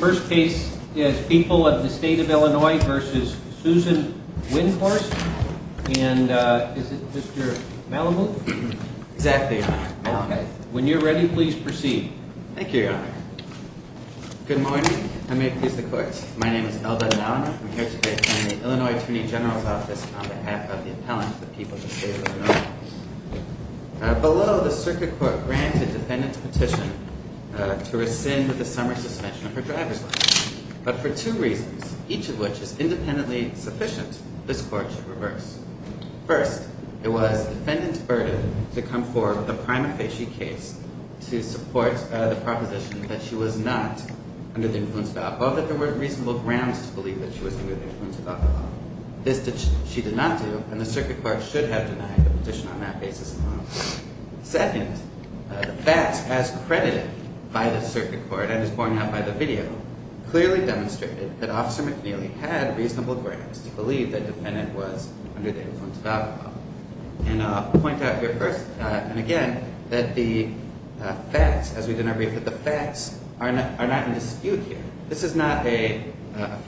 First case is People of the State of Illinois v. Susan Windhorst and is it Mr. Malamud? Exactly, Your Honor. When you're ready, please proceed. Thank you, Your Honor. Good morning. I may please the court. My name is Elbeth Malamud. I'm here today in the Illinois Attorney General's Office on behalf of the appellants of People of the State of Illinois. Below, the circuit court granted the defendant's petition to rescind the summer suspension of her driver's license. But for two reasons, each of which is independently sufficient, this court should reverse. First, it was the defendant's burden to come forward with a prima facie case to support the proposition that she was not under the influence of alcohol, or that there were reasonable grounds to believe that she was under the influence of alcohol. This she did not do, and the circuit court should have denied the petition on that basis alone. Second, the facts, as credited by the circuit court and as pointed out by the video, clearly demonstrated that Officer McNeely had reasonable grounds to believe that the defendant was under the influence of alcohol. And I'll point out here first, and again, that the facts, as we did in our brief, that the facts are not in dispute here. This is not a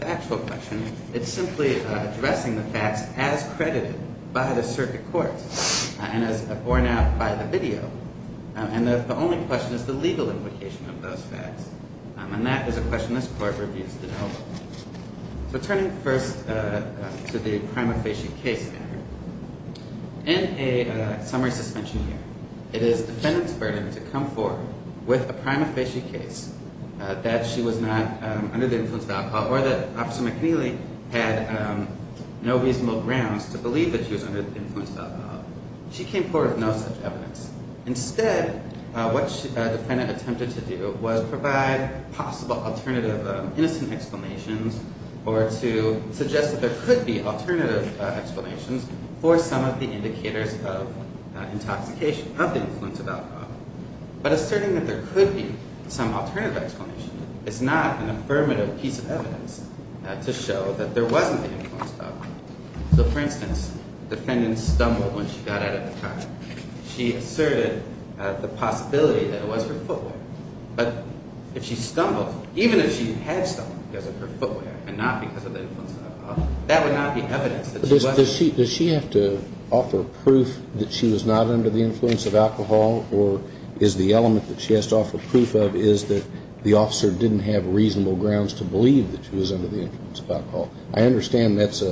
factual question. It's simply addressing the facts as credited by the circuit court and as borne out by the video. And the only question is the legal implication of those facts. And that is a question this court reviews to know. So turning first to the prima facie case, in a summary suspension hearing, it is the defendant's burden to come forward with a prima facie case that she was not under the influence of alcohol, or that Officer McNeely had no reasonable grounds to believe that she was under the influence of alcohol. She came forward with no such evidence. Instead, what the defendant attempted to do was provide possible alternative innocent explanations, or to suggest that there could be alternative explanations for some of the indicators of intoxication, of the influence of alcohol. But asserting that there could be some alternative explanation is not an affirmative piece of evidence to show that there wasn't the influence of alcohol. So for instance, the defendant stumbled when she got out of the car. She asserted the possibility that it was her footwear. But if she stumbled, even if she had stumbled because of her footwear and not because of the influence of alcohol, that would not be evidence that she was. Does she have to offer proof that she was not under the influence of alcohol, or is the element that she has to offer proof of is that the officer didn't have reasonable grounds to believe that she was under the influence of alcohol? I understand that's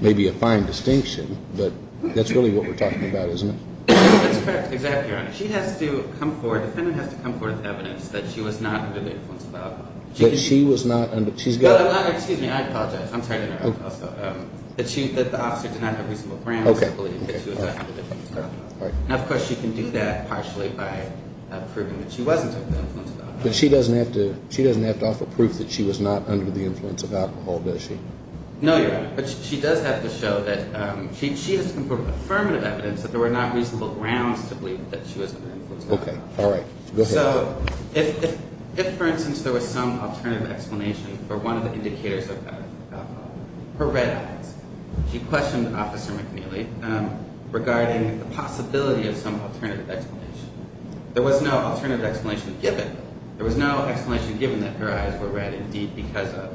maybe a fine distinction, but that's really what we're talking about, isn't it? That's correct, exactly, Your Honor. She has to come forward, the defendant has to come forward with evidence that she was not under the influence of alcohol. That she was not under. She's got. Excuse me, I apologize. I'm sorry to interrupt also. That the officer did not have reasonable grounds to believe that she was under the influence of alcohol. And of course, she can do that partially by proving that she wasn't under the influence of alcohol. But she doesn't have to offer proof that she was not under the influence of alcohol, does she? No, Your Honor. But she does have to show that she has to come forward with affirmative evidence that there were not reasonable grounds to believe that she was under the influence of alcohol. Okay, all right. Go ahead. So if, for instance, there was some alternative explanation for one of the indicators of alcohol, her red eyes. She questioned Officer McNeely regarding the possibility of some alternative explanation. There was no alternative explanation given. There was no explanation given that her eyes were red indeed because of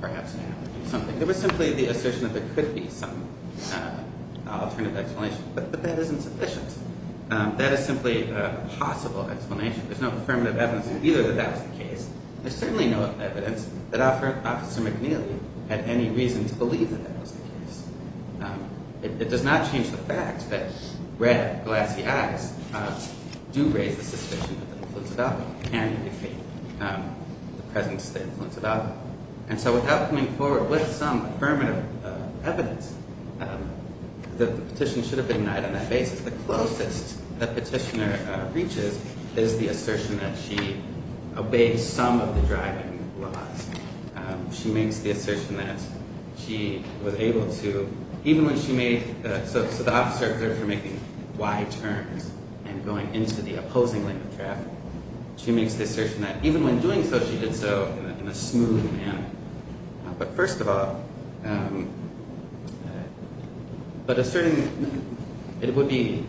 perhaps an alcoholic or something. There was simply the assertion that there could be some alternative explanation. But that isn't sufficient. That is simply a possible explanation. There's no affirmative evidence either that that was the case. There's certainly no evidence that Officer McNeely had any reason to believe that that was the case. It does not change the fact that red, glassy eyes do raise the suspicion of the influence of alcohol and defeat the presence of the influence of alcohol. And so without coming forward with some affirmative evidence that the petition should have been denied on that basis, the closest the petitioner reaches is the assertion that she obeyed some of the driving laws. She makes the assertion that she was able to, even when she made, so the officer observed her making wide turns and going into the opposing lane of traffic. She makes the assertion that even when doing so, she did so in a smooth manner. But first of all, but a certain, it would be,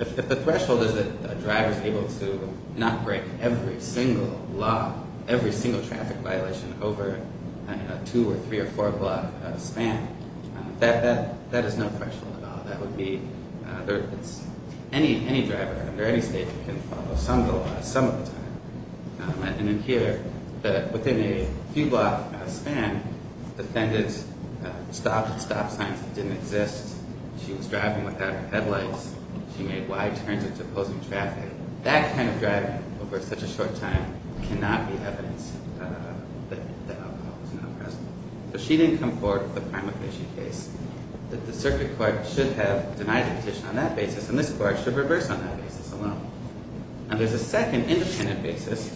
if the threshold is that a driver is able to not break every single law, every single traffic violation over a two or three or four block span, that is no threshold at all. That would be, any driver under any state can follow some of the laws, some of the time. And in here, within a few block span, the defendant stopped at stop signs that didn't exist. She was driving without her headlights. She made wide turns into opposing traffic. That kind of driving over such a short time cannot be evidence that alcohol was not present. So she didn't come forward with a crime offense case that the circuit court should have denied the petition on that basis, and this court should reverse on that basis alone. And there's a second independent basis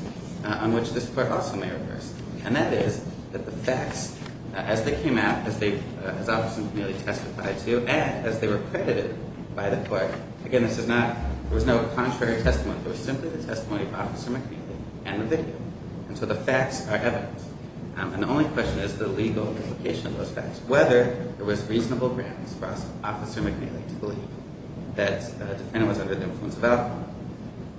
on which this court also may reverse. And that is that the facts, as they came out, as Officer McNeely testified to, and as they were credited by the court, again, this is not, there was no contrary testimony. It was simply the testimony of Officer McNeely and the victim. And so the facts are evidence. And the only question is the legal implication of those facts, whether it was reasonable grounds for Officer McNeely to believe that the defendant was under the influence of alcohol.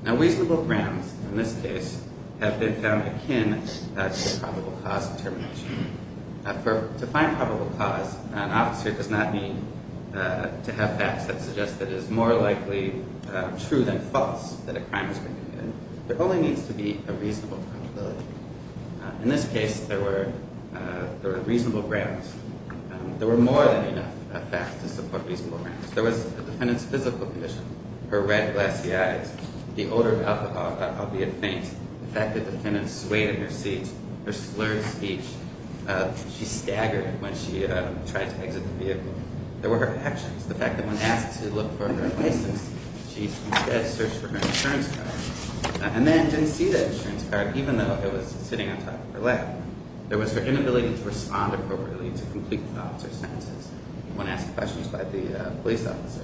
Now, reasonable grounds in this case have been found akin to a probable cause determination. To find probable cause, an officer does not need to have facts that suggest that it is more likely true than false that a crime has been committed. There only needs to be a reasonable probability. In this case, there were reasonable grounds. There were more than enough facts to support reasonable grounds. There was the defendant's physical condition, her red glassy eyes, the odor of alcohol, albeit faint, the fact that the defendant swayed in her seat, her slurred speech, she staggered when she tried to exit the vehicle. There were her actions, the fact that when asked to look for her license, she instead searched for her insurance card. And then didn't see the insurance card, even though it was sitting on top of her lap. There was her inability to respond appropriately to complete the officer's sentences when asked questions by the police officer.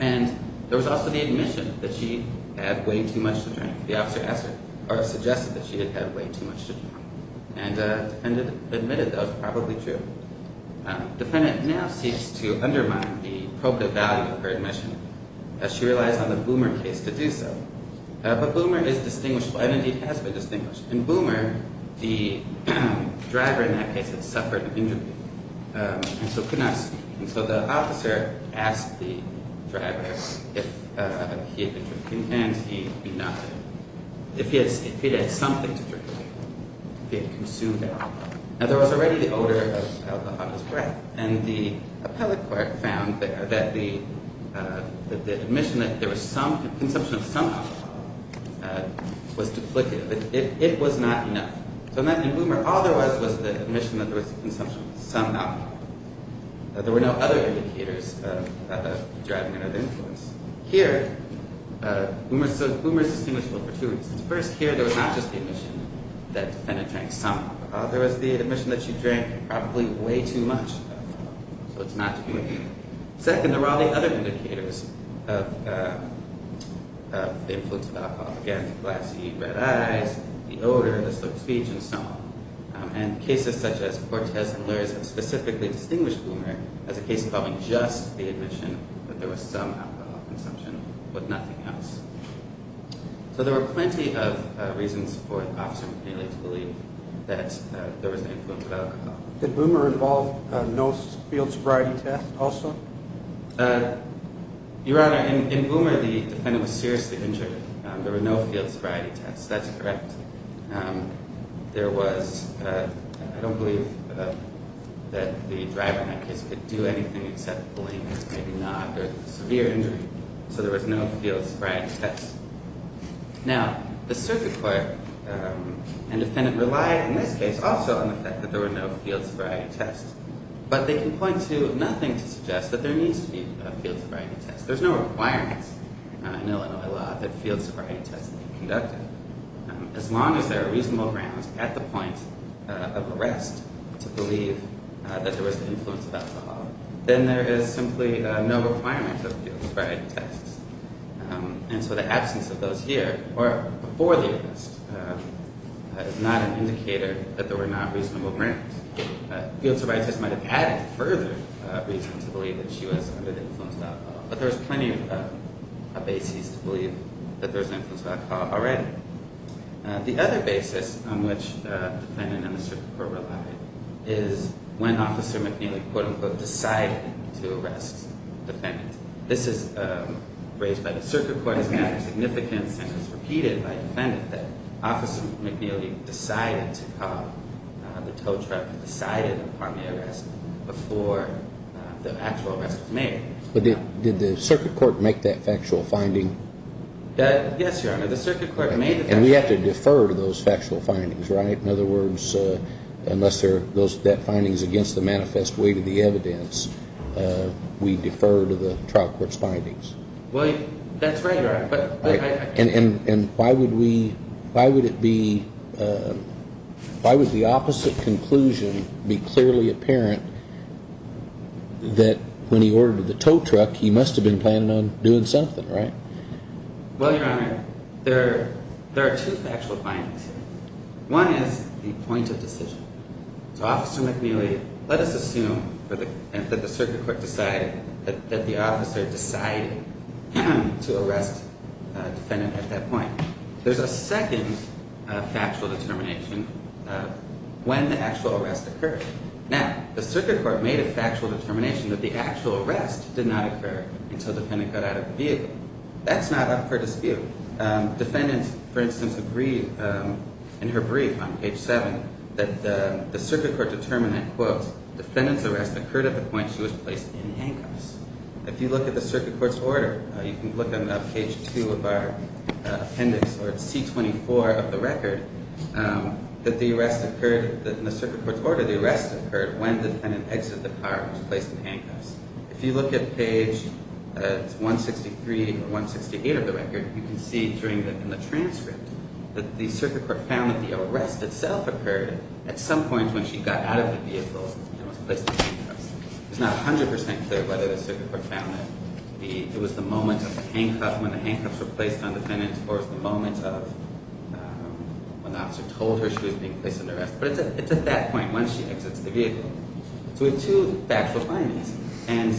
And there was also the admission that she had way too much to drink. The officer asked her, or suggested that she had had way too much to drink. And the defendant admitted that was probably true. The defendant now seeks to undermine the probative value of her admission as she relies on the Boomer case to do so. But Boomer is distinguishable, and indeed has been distinguished. In Boomer, the driver in that case had suffered an injury, and so could not speak. And so the officer asked the driver if he had been drinking, and he did not. If he had something to drink, if he had consumed alcohol. Now, there was already the odor of alcohol in his breath. And the appellate court found that the admission that there was consumption of some alcohol was duplicative. It was not enough. So in Boomer, all there was was the admission that there was consumption of some alcohol. There were no other indicators driving another influence. Here, Boomer is distinguishable for two reasons. First, here there was not just the admission that the defendant drank some alcohol. There was the admission that she drank probably way too much alcohol. So it's not to be reckoned with. Second, there were all the other indicators of the influence of alcohol. Again, the glassy red eyes, the odor, the slow speech, and so on. And cases such as Cortez and Lurz have specifically distinguished Boomer as a case involving just the admission that there was some alcohol consumption, but nothing else. So there were plenty of reasons for Officer McNeely to believe that there was an influence of alcohol. Did Boomer involve no field sobriety test also? Your Honor, in Boomer, the defendant was seriously injured. There were no field sobriety tests. That's correct. There was, I don't believe that the driver in that case could do anything except believe, maybe nod, or severe injury. So there was no field sobriety test. Now, the circuit court and defendant relied in this case also on the fact that there were no field sobriety tests. But they can point to nothing to suggest that there needs to be a field sobriety test. There's no requirement in Illinois law that field sobriety tests be conducted. As long as there are reasonable grounds at the point of arrest to believe that there was an influence of alcohol, then there is simply no requirement of field sobriety tests. And so the absence of those here, or before the arrest, is not an indicator that there were not reasonable grounds. Field sobriety tests might have added further reason to believe that she was under the influence of alcohol. But there was plenty of basis to believe that there was an influence of alcohol already. The other basis on which the defendant and the circuit court relied is when Officer McNeely, quote-unquote, decided to arrest the defendant. This is raised by the circuit court as matter of significance and was repeated by the defendant that Officer McNeely decided to call the tow truck and decided upon the arrest before the actual arrest was made. But did the circuit court make that factual finding? Yes, Your Honor. The circuit court made the factual finding. And we have to defer to those factual findings, right? In other words, unless that finding is against the manifest weight of the evidence, we defer to the trial court's findings. Well, that's right, Your Honor. And why would we, why would it be, why would the opposite conclusion be clearly apparent that when he ordered the tow truck, he must have been planning on doing something, right? Well, Your Honor, there are two factual findings. One is the point of decision. So Officer McNeely, let us assume that the circuit court decided, that the officer decided to arrest the defendant at that point. There's a second factual determination of when the actual arrest occurred. Now, the circuit court made a factual determination that the actual arrest did not occur until the defendant got out of the vehicle. That's not up for dispute. Defendants, for instance, agreed in her brief on page 7 that the circuit court determined that, quote, defendant's arrest occurred at the point she was placed in handcuffs. If you look at the circuit court's order, you can look at page 2 of our appendix, or C24 of the record, that the arrest occurred, in the circuit court's order, the arrest occurred when the defendant exited the car and was placed in handcuffs. If you look at page 163 or 168 of the record, you can see in the transcript that the circuit court found that the arrest itself occurred at some point when she got out of the vehicle and was placed in handcuffs. It's not 100% clear whether the circuit court found that it was the moment of the handcuff when the handcuffs were placed on the defendant or the moment of when the officer told her she was being placed in handcuffs. But it's at that point when she exits the vehicle. So we have two factual findings, and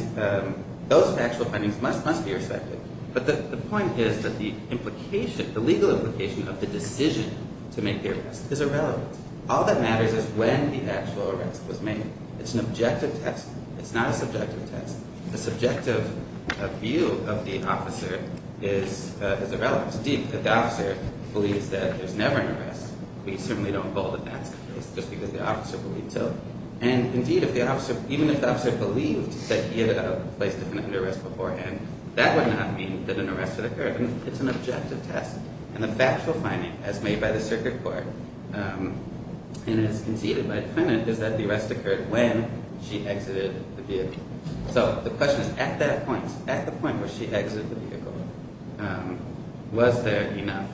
those factual findings must be respected. But the point is that the legal implication of the decision to make the arrest is irrelevant. All that matters is when the actual arrest was made. It's an objective test. It's not a subjective test. The subjective view of the officer is irrelevant. Indeed, if the officer believes that there's never an arrest, we certainly don't hold that that's the case, just because the officer believed so. And indeed, even if the officer believed that he had placed the defendant under arrest beforehand, that would not mean that an arrest had occurred. It's an objective test. And the factual finding, as made by the circuit court and as conceded by the defendant, is that the arrest occurred when she exited the vehicle. So the question is, at that point, at the point where she exited the vehicle, was there enough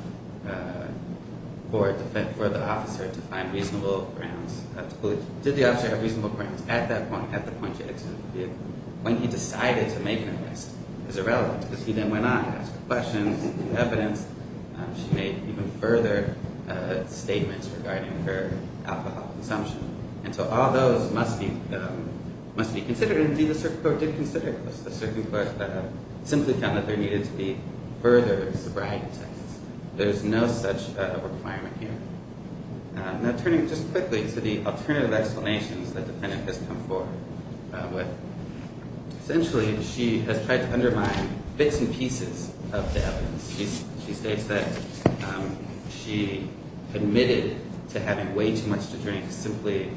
for the officer to find reasonable grounds to believe? Did the officer have reasonable grounds at that point, at the point she exited the vehicle, when he decided to make an arrest? It's irrelevant, because he then went on to ask questions and get evidence. She made even further statements regarding her alcohol consumption. And so all those must be considered. And indeed, the circuit court did consider this. The circuit court simply found that there needed to be further sobriety tests. There's no such requirement here. Now, turning just quickly to the alternative explanations that the defendant has come forward with. Essentially, she has tried to undermine bits and pieces of the evidence. She states that she admitted to having way too much to drink, simply,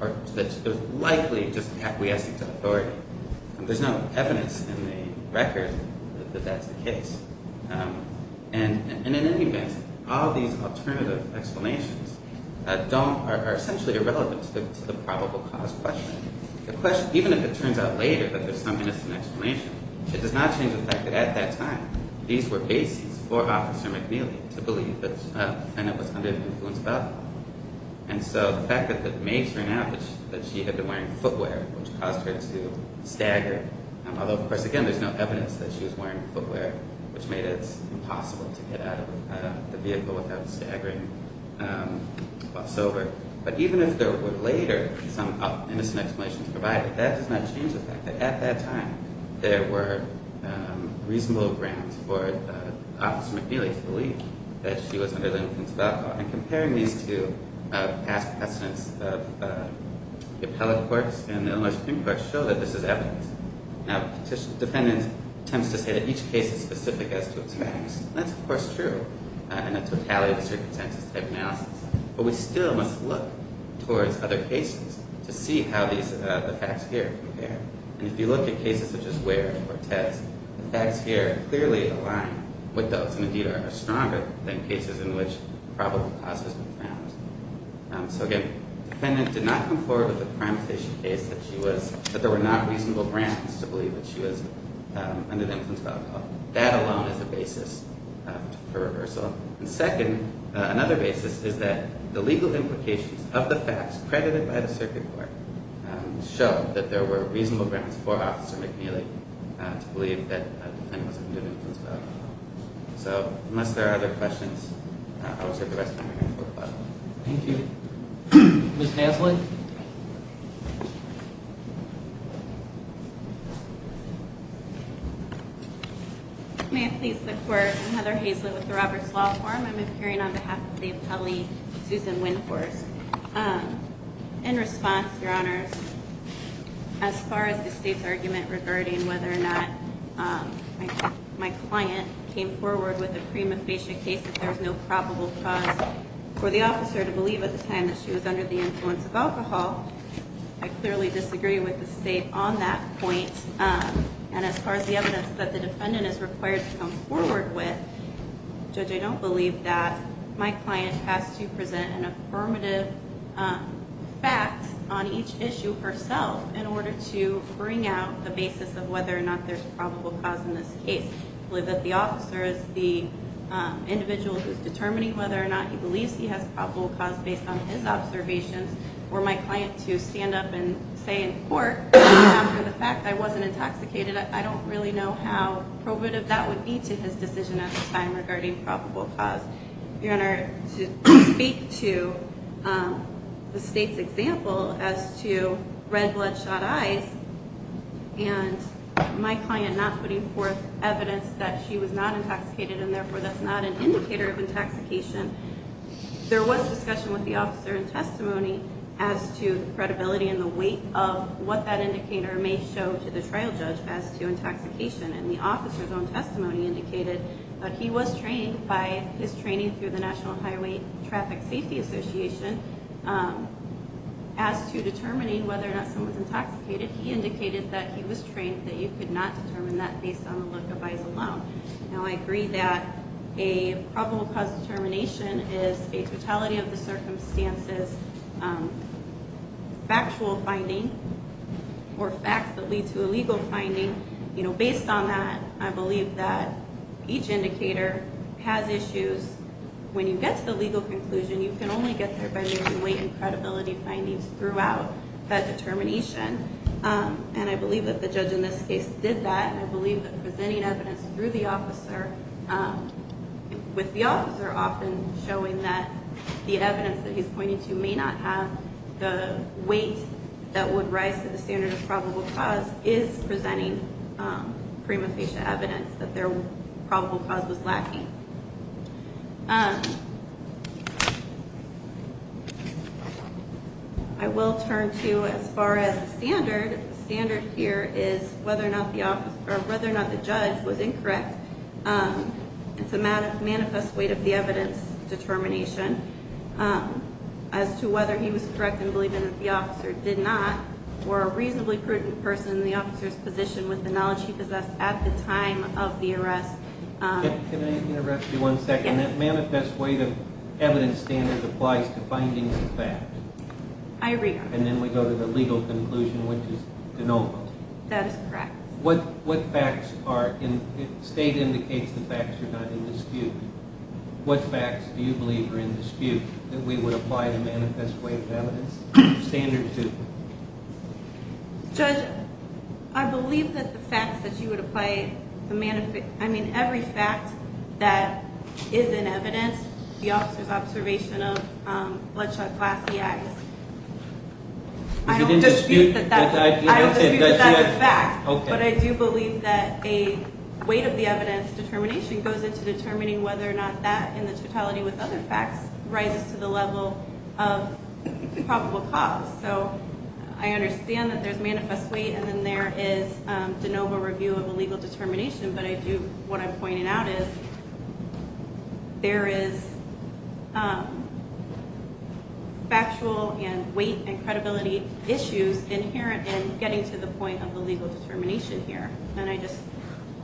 or that she was likely just acquiescing to authority. There's no evidence in the record that that's the case. And in any event, all these alternative explanations are essentially irrelevant to the probable cause question. Even if it turns out later that there's some innocent explanation, it does not change the fact that, at that time, these were bases for Officer McNeely to believe that the defendant was under the influence of alcohol. And so the fact that the maids found out that she had been wearing footwear, which caused her to stagger, although, of course, again, there's no evidence that she was wearing footwear, which made it impossible to get out of the vehicle without staggering whatsoever. But even if there were later some innocent explanations provided, that does not change the fact that, at that time, there were reasonable grounds for Officer McNeely to believe that she was under the influence of alcohol. And comparing these to past precedents of the appellate courts and the Illinois Supreme Court show that this is evidence. Now, the defendant attempts to say that each case is specific as to its facts. That's, of course, true in a totality of circumstances type analysis. But we still must look towards other cases to see how the facts here compare. And if you look at cases such as Ware and Cortez, the facts here clearly align with those and, indeed, are stronger than cases in which probable cause has been found. So, again, the defendant did not come forward with a primatization case that she was – that there were not reasonable grounds to believe that she was under the influence of alcohol. That alone is a basis for reversal. And, second, another basis is that the legal implications of the facts credited by the circuit court show that there were reasonable grounds for Officer McNeely to believe that the defendant was under the influence of alcohol. So, unless there are other questions, I will save the rest of my time for questions. Thank you. Ms. Haslund? May it please the Court? I'm Heather Haslund with the Roberts Law Firm. I'm appearing on behalf of the appellee, Susan Winforce. In response, Your Honors, as far as the State's argument regarding whether or not my client came forward with a prima facie case that there was no probable cause for the officer to believe at the time that she was under the influence of alcohol, I clearly disagree with the State on that point. And as far as the evidence that the defendant is required to come forward with, Judge, I don't believe that my client has to present an affirmative fact on each issue herself in order to bring out the basis of whether or not there's probable cause in this case. I believe that the officer is the individual who's determining whether or not he believes he has probable cause based on his observations. For my client to stand up and say in court, after the fact, I wasn't intoxicated, I don't really know how probative that would be to his decision at the time regarding probable cause. Your Honor, to speak to the State's example as to red bloodshot eyes and my client not putting forth evidence that she was not intoxicated and therefore that's not an indicator of intoxication, there was discussion with the officer in testimony as to the credibility and the weight of what that indicator may show to the trial judge as to intoxication. And the officer's own testimony indicated that he was trained by his training through the National Highway Traffic Safety Association as to determining whether or not someone's intoxicated. He indicated that he was trained that you could not determine that based on the look of eyes alone. Now, I agree that a probable cause determination is a totality of the circumstances factual finding or facts that lead to a legal finding. Based on that, I believe that each indicator has issues. When you get to the legal conclusion, you can only get there by using weight and credibility findings throughout that determination. And I believe that the judge in this case did that. I believe that presenting evidence through the officer with the officer often showing that the evidence that he's pointing to may not have the weight that would rise to the standard of probable cause is presenting prima facie evidence that their probable cause was lacking. I will turn to as far as the standard. The standard here is whether or not the judge was incorrect. It's a manifest weight of the evidence determination as to whether he was correct in believing that the officer did not or a reasonably prudent person in the officer's position with the knowledge he possessed at the time of the arrest. Can I interrupt you one second? Yes. That manifest weight of evidence standard applies to findings of fact. I agree. And then we go to the legal conclusion, which is denominal. That is correct. What facts are – state indicates the facts are not in dispute. What facts do you believe are in dispute that we would apply the manifest weight of evidence standard to? Judge, I believe that the facts that you would apply the – I mean every fact that is in evidence, the officer's observation of bloodshot glassy eyes. I don't dispute that that's a fact. But I do believe that a weight of the evidence determination goes into determining whether or not that in the totality with other facts rises to the level of probable cause. So I understand that there's manifest weight and then there is de novo review of a legal determination. But I do – what I'm pointing out is there is factual and weight and credibility issues inherent in getting to the point of a legal determination here. And I just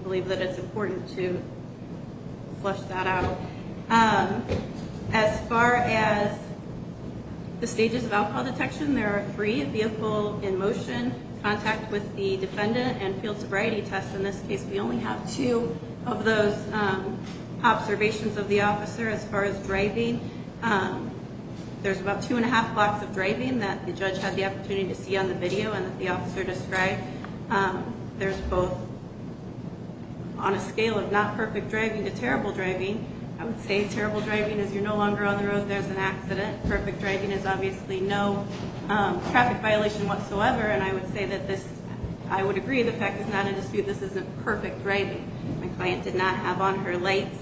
believe that it's important to flush that out. As far as the stages of alcohol detection, there are three – vehicle in motion, contact with the defendant, and field sobriety test. In this case, we only have two of those observations of the officer. As far as driving, there's about two and a half blocks of driving that the judge had the opportunity to see on the video and that the officer described. There's both on a scale of not perfect driving to terrible driving. I would say terrible driving is you're no longer on the road, there's an accident. Perfect driving is obviously no traffic violation whatsoever. And I would say that this – I would agree the fact is not in dispute. This isn't perfect driving. The client did not have on her lights.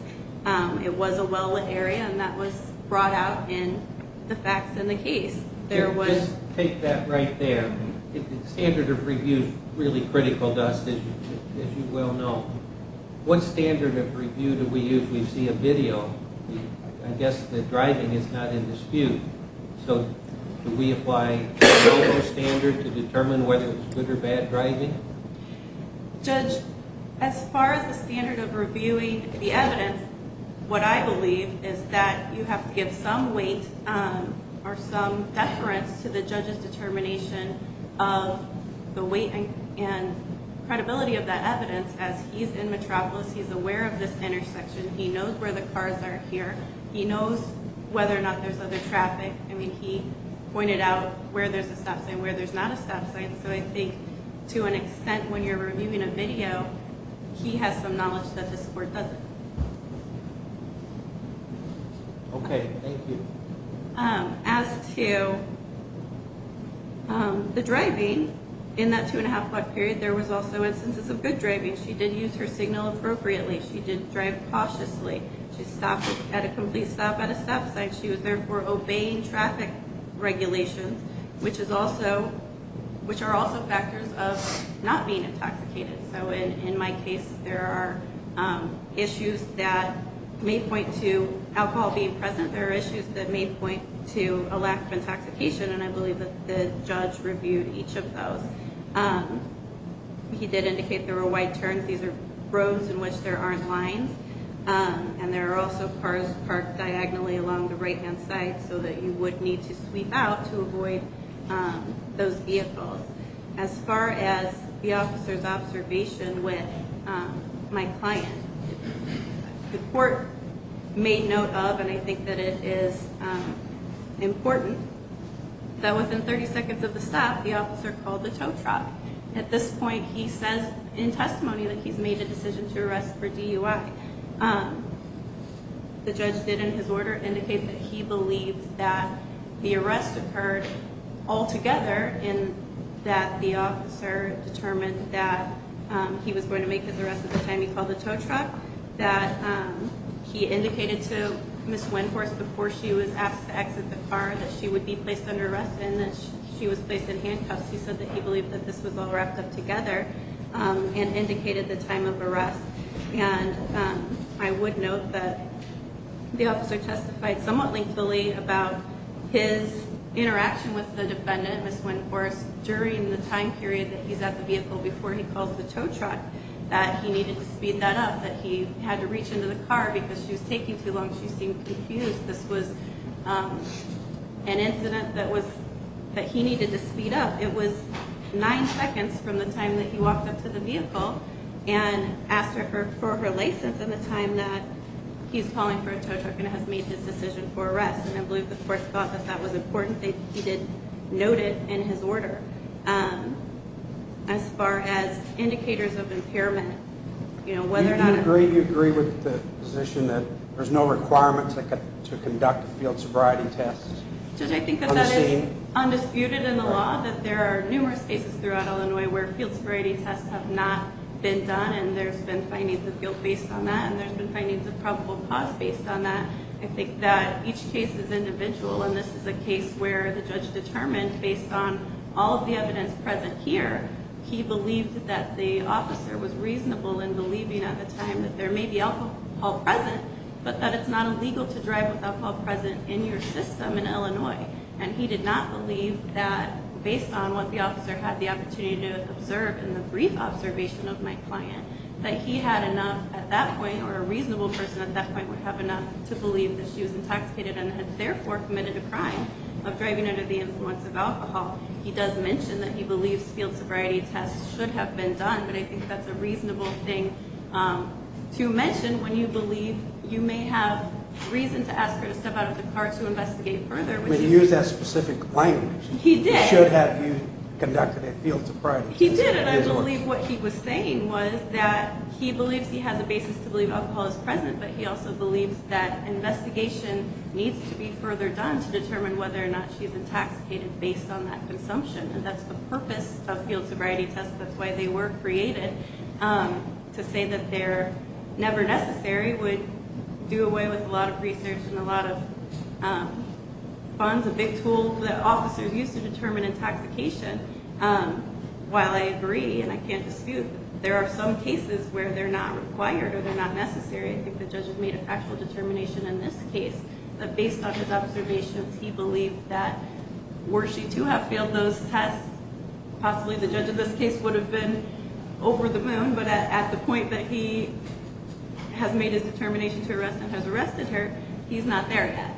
It was a well-lit area and that was brought out in the facts in the case. Just take that right there. The standard of review is really critical to us, as you well know. What standard of review do we use? We see a video. I guess the driving is not in dispute. So do we apply the standard to determine whether it was good or bad driving? Judge, as far as the standard of reviewing the evidence, what I believe is that you have to give some weight or some deference to the judge's determination of the weight and credibility of that evidence. As he's in Metropolis, he's aware of this intersection. He knows where the cars are here. He knows whether or not there's other traffic. I mean, he pointed out where there's a stop sign, where there's not a stop sign. So I think to an extent, when you're reviewing a video, he has some knowledge that this court doesn't. Okay, thank you. As to the driving, in that two-and-a-half-block period, there was also instances of good driving. She did use her signal appropriately. She did drive cautiously. She stopped at a complete stop at a stop sign. She was therefore obeying traffic regulations, which are also factors of not being intoxicated. So in my case, there are issues that may point to alcohol being present. There are issues that may point to a lack of intoxication, and I believe that the judge reviewed each of those. He did indicate there were wide turns. These are roads in which there aren't lines. And there are also cars parked diagonally along the right-hand side so that you would need to sweep out to avoid those vehicles. As far as the officer's observation with my client, the court made note of, and I think that it is important, that within 30 seconds of the stop, the officer called the tow truck. At this point, he says in testimony that he's made a decision to arrest for DUI. The judge did, in his order, indicate that he believes that the arrest occurred altogether and that the officer determined that he was going to make his arrest at the time he called the tow truck, that he indicated to Ms. Wendhorst before she was asked to exit the car that she would be placed under arrest and that she was placed in handcuffs. He said that he believed that this was all wrapped up together and indicated the time of arrest. And I would note that the officer testified somewhat lengthily about his interaction with the defendant, Ms. Wendhorst, during the time period that he's at the vehicle before he calls the tow truck, that he needed to speed that up, that he had to reach into the car because she was taking too long. She seemed confused. This was an incident that he needed to speed up. It was nine seconds from the time that he walked up to the vehicle and asked for her license and the time that he's calling for a tow truck and has made his decision for arrest. And I believe the court thought that that was important that he noted in his order. As far as indicators of impairment, you know, whether or not... Do you agree with the position that there's no requirement to conduct a field sobriety test on the scene? It's undisputed in the law that there are numerous cases throughout Illinois where field sobriety tests have not been done and there's been findings of guilt based on that and there's been findings of probable cause based on that. I think that each case is individual, and this is a case where the judge determined, based on all of the evidence present here, he believed that the officer was reasonable in believing at the time that there may be alcohol present but that it's not illegal to drive with alcohol present in your system in Illinois. And he did not believe that, based on what the officer had the opportunity to observe in the brief observation of my client, that he had enough at that point or a reasonable person at that point would have enough to believe that she was intoxicated and had therefore committed a crime of driving under the influence of alcohol. He does mention that he believes field sobriety tests should have been done, but I think that's a reasonable thing to mention when you believe you may have reason to ask her to step out of the car to investigate further. I mean, he used that specific language. He did. He should have you conduct a field sobriety test. He did, and I believe what he was saying was that he believes he has a basis to believe alcohol is present, but he also believes that investigation needs to be further done to determine whether or not she's intoxicated based on that consumption. And that's the purpose of field sobriety tests. That's why they were created, to say that they're never necessary would do away with a lot of research and a lot of funds, a big tool that officers use to determine intoxication. While I agree and I can't dispute that there are some cases where they're not required or they're not necessary, I think the judge has made a factual determination in this case that based on his observations, he believed that were she to have failed those tests, possibly the judge in this case would have been over the moon, but at the point that he has made his determination to arrest and has arrested her, he's not there yet.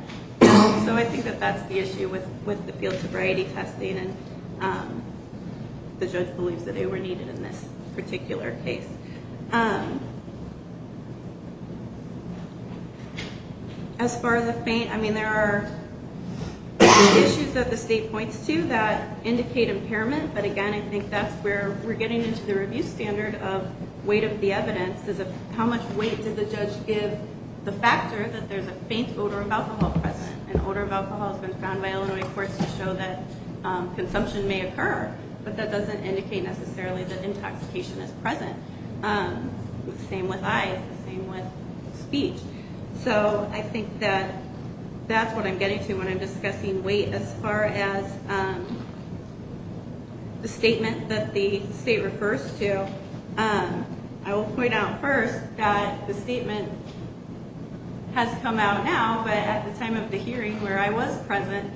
So I think that that's the issue with the field sobriety testing, and the judge believes that they were needed in this particular case. As far as the feint, I mean, there are issues that the state points to that indicate impairment, but again, I think that's where we're getting into the review standard of weight of the evidence. How much weight did the judge give the factor that there's a feint odor of alcohol present? An odor of alcohol has been found by Illinois courts to show that consumption may occur, but that doesn't indicate necessarily that intoxication is present. The same with eyes, the same with speech. So I think that that's what I'm getting to when I'm discussing weight. As far as the statement that the state refers to, I will point out first that the statement has come out now, but at the time of the hearing where I was present,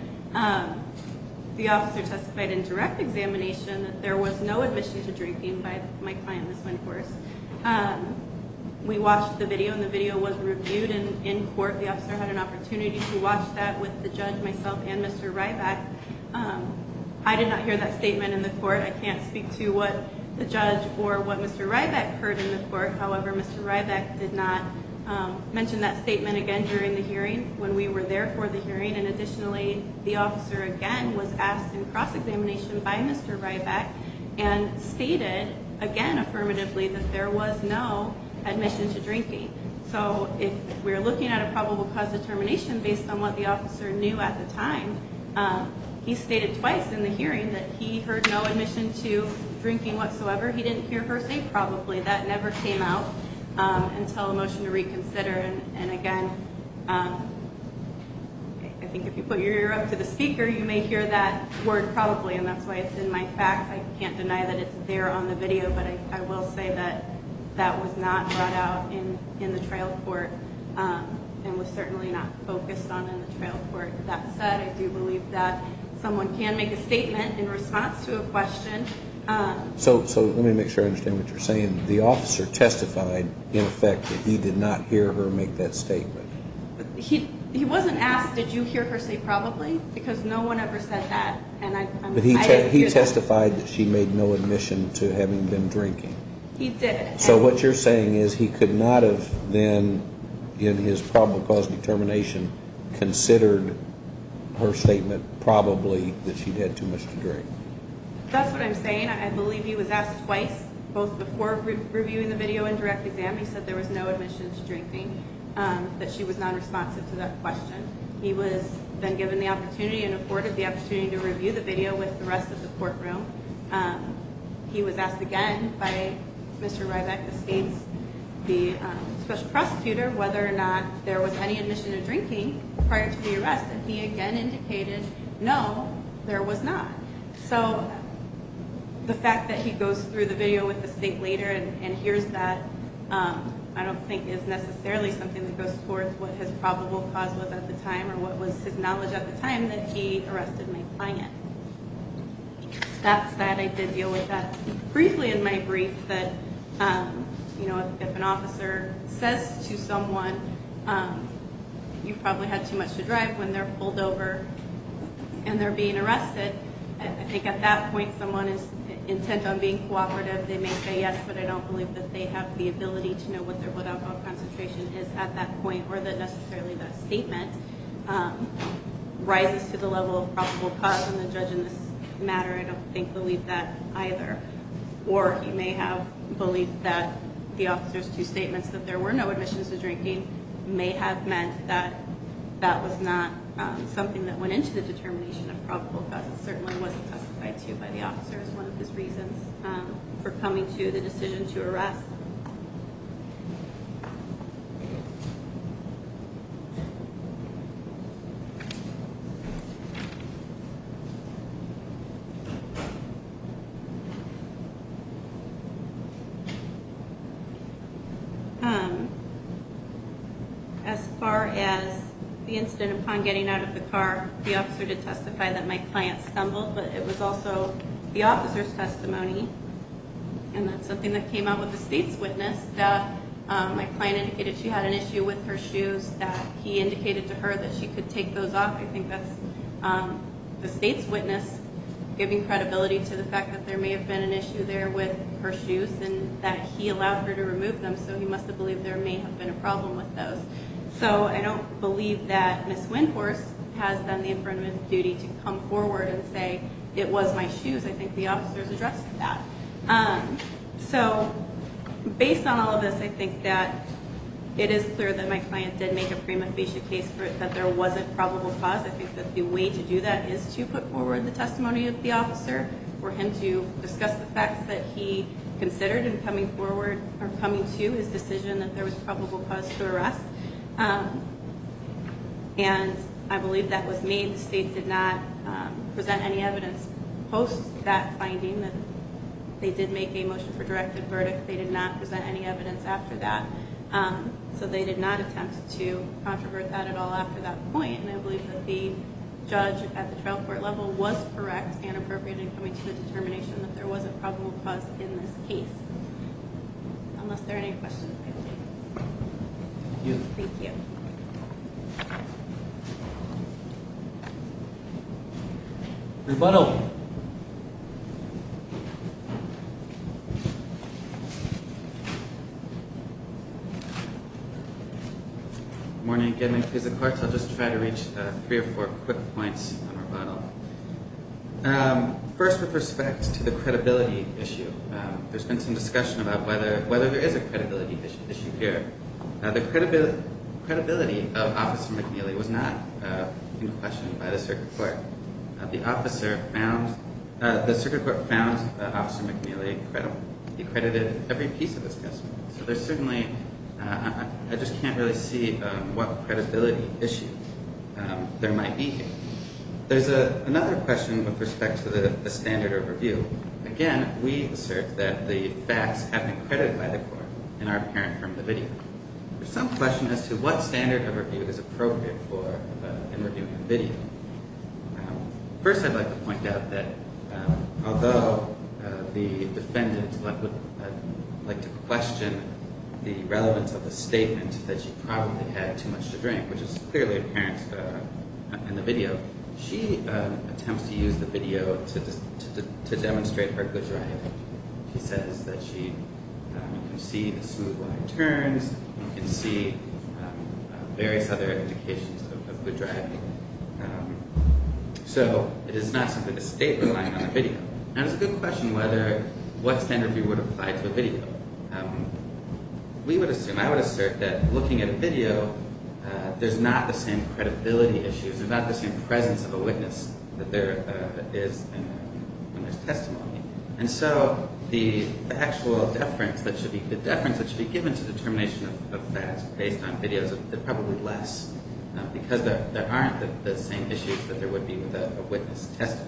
the officer testified in direct examination that there was no admission to drinking by my client, Ms. Wentworth. We watched the video, and the video was reviewed in court. The officer had an opportunity to watch that with the judge, myself, and Mr. Ryback. I did not hear that statement in the court. I can't speak to what the judge or what Mr. Ryback heard in the court. However, Mr. Ryback did not mention that statement again during the hearing when we were there for the hearing, and additionally, the officer again was asked in cross-examination by Mr. Ryback and stated again affirmatively that there was no admission to drinking. So if we're looking at a probable cause determination based on what the officer knew at the time, he stated twice in the hearing that he heard no admission to drinking whatsoever. He didn't hear her say probably. That never came out until a motion to reconsider. And again, I think if you put your ear up to the speaker, you may hear that word probably, and that's why it's in my facts. I can't deny that it's there on the video, but I will say that that was not brought out in the trial court and was certainly not focused on in the trial court. That said, I do believe that someone can make a statement in response to a question. So let me make sure I understand what you're saying. The officer testified, in effect, that he did not hear her make that statement. He wasn't asked, did you hear her say probably? Because no one ever said that. But he testified that she made no admission to having been drinking. He did. So what you're saying is he could not have then, in his probable cause determination, considered her statement probably that she'd had too much to drink. That's what I'm saying. I believe he was asked twice, both before reviewing the video and direct exam. He said there was no admission to drinking, that she was nonresponsive to that question. He was then given the opportunity and afforded the opportunity to review the video with the rest of the courtroom. He was asked again by Mr. Ryback, the State's Special Prosecutor, whether or not there was any admission to drinking prior to the arrest, and he again indicated no, there was not. So the fact that he goes through the video with the State later and hears that, I don't think is necessarily something that goes towards what his probable cause was at the time or what was his knowledge at the time that he arrested my client. That's that. I did deal with that briefly in my brief, that if an officer says to someone, you probably had too much to drive when they're pulled over and they're being arrested, I think at that point someone is intent on being cooperative. They may say yes, but I don't believe that they have the ability to know what their blood alcohol concentration is at that point or that necessarily that statement rises to the level of probable cause, and the judge in this matter I don't think believed that either. Or he may have believed that the officer's two statements that there were no admissions to drinking may have meant that that was not something that went into the determination of probable cause. It certainly was testified to by the officer as one of his reasons for coming to the decision to arrest. As far as the incident upon getting out of the car, the officer did testify that my client stumbled, but it was also the officer's testimony, and that's something that came out with the state's witness, that my client indicated she had an issue with her shoes, that he indicated to her that she could take those off. I think that's the state's witness giving credibility to the fact that there may have been an issue there with her shoes and that he allowed her to remove them, so he must have believed there may have been a problem with those. So I don't believe that Ms. Windhorse has done the affirmative duty to come forward and say it was my shoes. I think the officer's addressed that. So based on all of this, I think that it is clear that my client did make a prima facie case for it, that there was a probable cause. I think that the way to do that is to put forward the testimony of the officer for him to discuss the facts that he considered in coming forward or coming to his decision that there was probable cause to arrest, and I believe that was made. The state did not present any evidence post that finding that they did make a motion for directive verdict. They did not present any evidence after that. So they did not attempt to controvert that at all after that point, and I believe that the judge at the trial court level was correct and appropriate in coming to the determination that there was a probable cause in this case. Unless there are any questions. Thank you. Rebuttal. Good morning again, and I'll just try to reach three or four quick points on rebuttal. First, with respect to the credibility issue, there's been some discussion about whether there is a credibility issue here. The credibility of Officer McNeely was not in question by the circuit court. The circuit court found Officer McNeely credible. He credited every piece of this testimony. So there's certainly, I just can't really see what credibility issue there might be here. There's another question with respect to the standard overview. Again, we assert that the facts have been credited by the court and are apparent from the video. There's some question as to what standard overview is appropriate for reviewing the video. First, I'd like to point out that although the defendant would like to question the relevance of the statement that she probably had too much to drink, which is clearly apparent in the video, she attempts to use the video to demonstrate her good driving. She says that she can see the smooth line of turns. You can see various other indications of good driving. So it is not simply the statement lying on the video. Now, it's a good question what standard overview would apply to a video. I would assert that looking at a video, there's not the same credibility issues. There's not the same presence of a witness that there is in this testimony. And so the actual deference that should be given to determination of facts based on videos, they're probably less because there aren't the same issues that there would be with a witness testimony.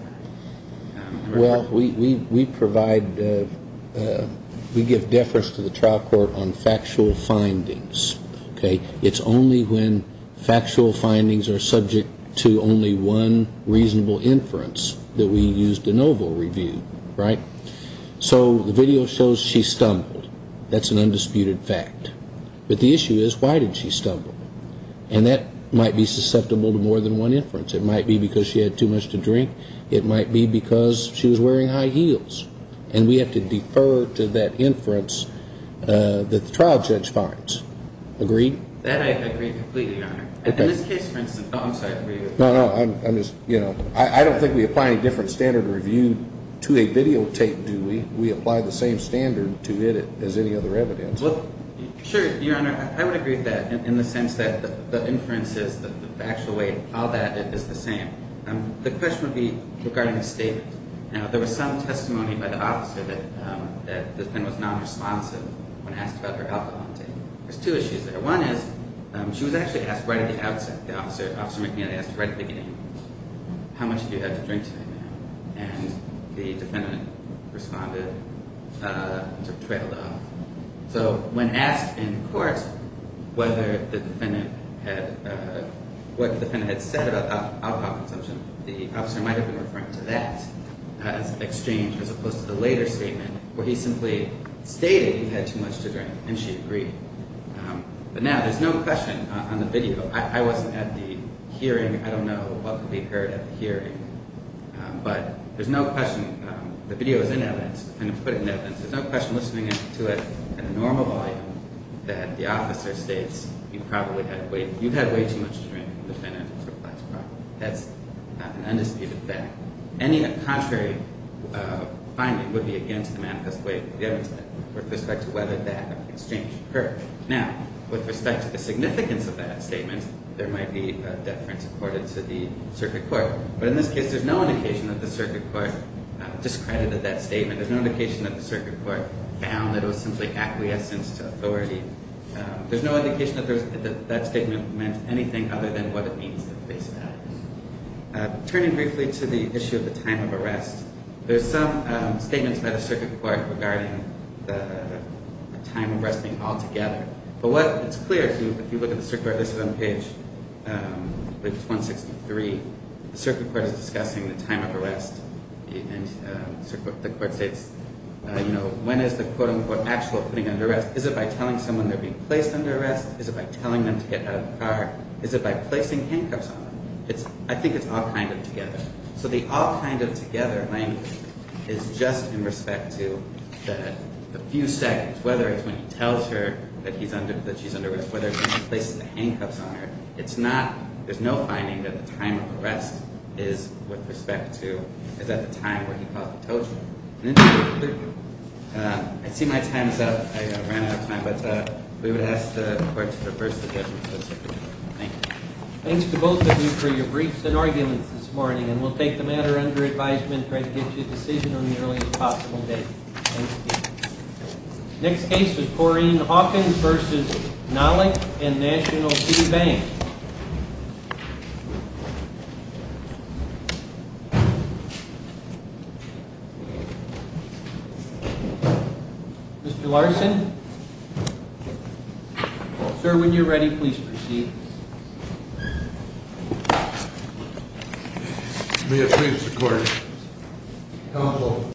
Well, we provide, we give deference to the trial court on factual findings. It's only when factual findings are subject to only one reasonable inference that we use de novo review, right? So the video shows she stumbled. That's an undisputed fact. But the issue is why did she stumble? And that might be susceptible to more than one inference. It might be because she had too much to drink. It might be because she was wearing high heels. And we have to defer to that inference that the trial judge finds. Agreed? That I agree completely, Your Honor. In this case, for instance. Oh, I'm sorry. No, no, I'm just, you know, I don't think we apply any different standard review to a videotape, do we? We apply the same standard to edit as any other evidence. Sure, Your Honor. I would agree with that in the sense that the inferences, the actual way how that is the same. The question would be regarding the statement. Now, there was some testimony by the officer that the defendant was nonresponsive when asked about her alcohol intake. There's two issues there. One is she was actually asked right at the outset, the officer, Officer McNeely asked right at the beginning, how much did you have to drink tonight, ma'am? And the defendant responded, sort of trailed off. So when asked in court whether the defendant had, what the defendant had said about alcohol consumption, the officer might have been referring to that as an exchange as opposed to the later statement where he simply stated he had too much to drink, and she agreed. But now there's no question on the video. I wasn't at the hearing. I don't know what could be heard at the hearing. But there's no question. The video is in evidence. I'm going to put it in evidence. There's no question listening to it in the normal volume that the officer states you probably had way, way too much to drink. The defendant replies, probably. That's an undisputed fact. Any contrary finding would be against the Manifest Waiver of the Event Statement with respect to whether that exchange occurred. Now, with respect to the significance of that statement, there might be a deference accorded to the circuit court. But in this case, there's no indication that the circuit court discredited that statement. There's no indication that the circuit court found that it was simply acquiescence to authority. There's no indication that that statement meant anything other than what it means to face facts. Turning briefly to the issue of the time of arrest, there's some statements by the circuit court regarding the time of arrest being altogether. But what is clear, if you look at the circuit court, this is on page 163. The circuit court is discussing the time of arrest, and the court states, you know, when is the quote-unquote actual putting under arrest? Is it by telling someone they're being placed under arrest? Is it by telling them to get out of the car? Is it by placing handcuffs on them? I think it's all kind of together. So the all kind of together language is just in respect to the few seconds, whether it's when he tells her that she's under arrest, whether it's when he places the handcuffs on her. It's not, there's no finding that the time of arrest is with respect to, is at the time where he caused the torture. I see my time is up. I ran out of time, but we would ask the court to reverse the judgment of the circuit court. Thank you. Thanks to both of you for your briefs and arguments this morning, and we'll take the matter under advisement and try to get you a decision on the earliest possible date. Thank you. Next case is Corrine Hawkins v. Nolik and National Key Bank. Mr. Larson. Sir, when you're ready, please proceed. May it please the court. Counsel.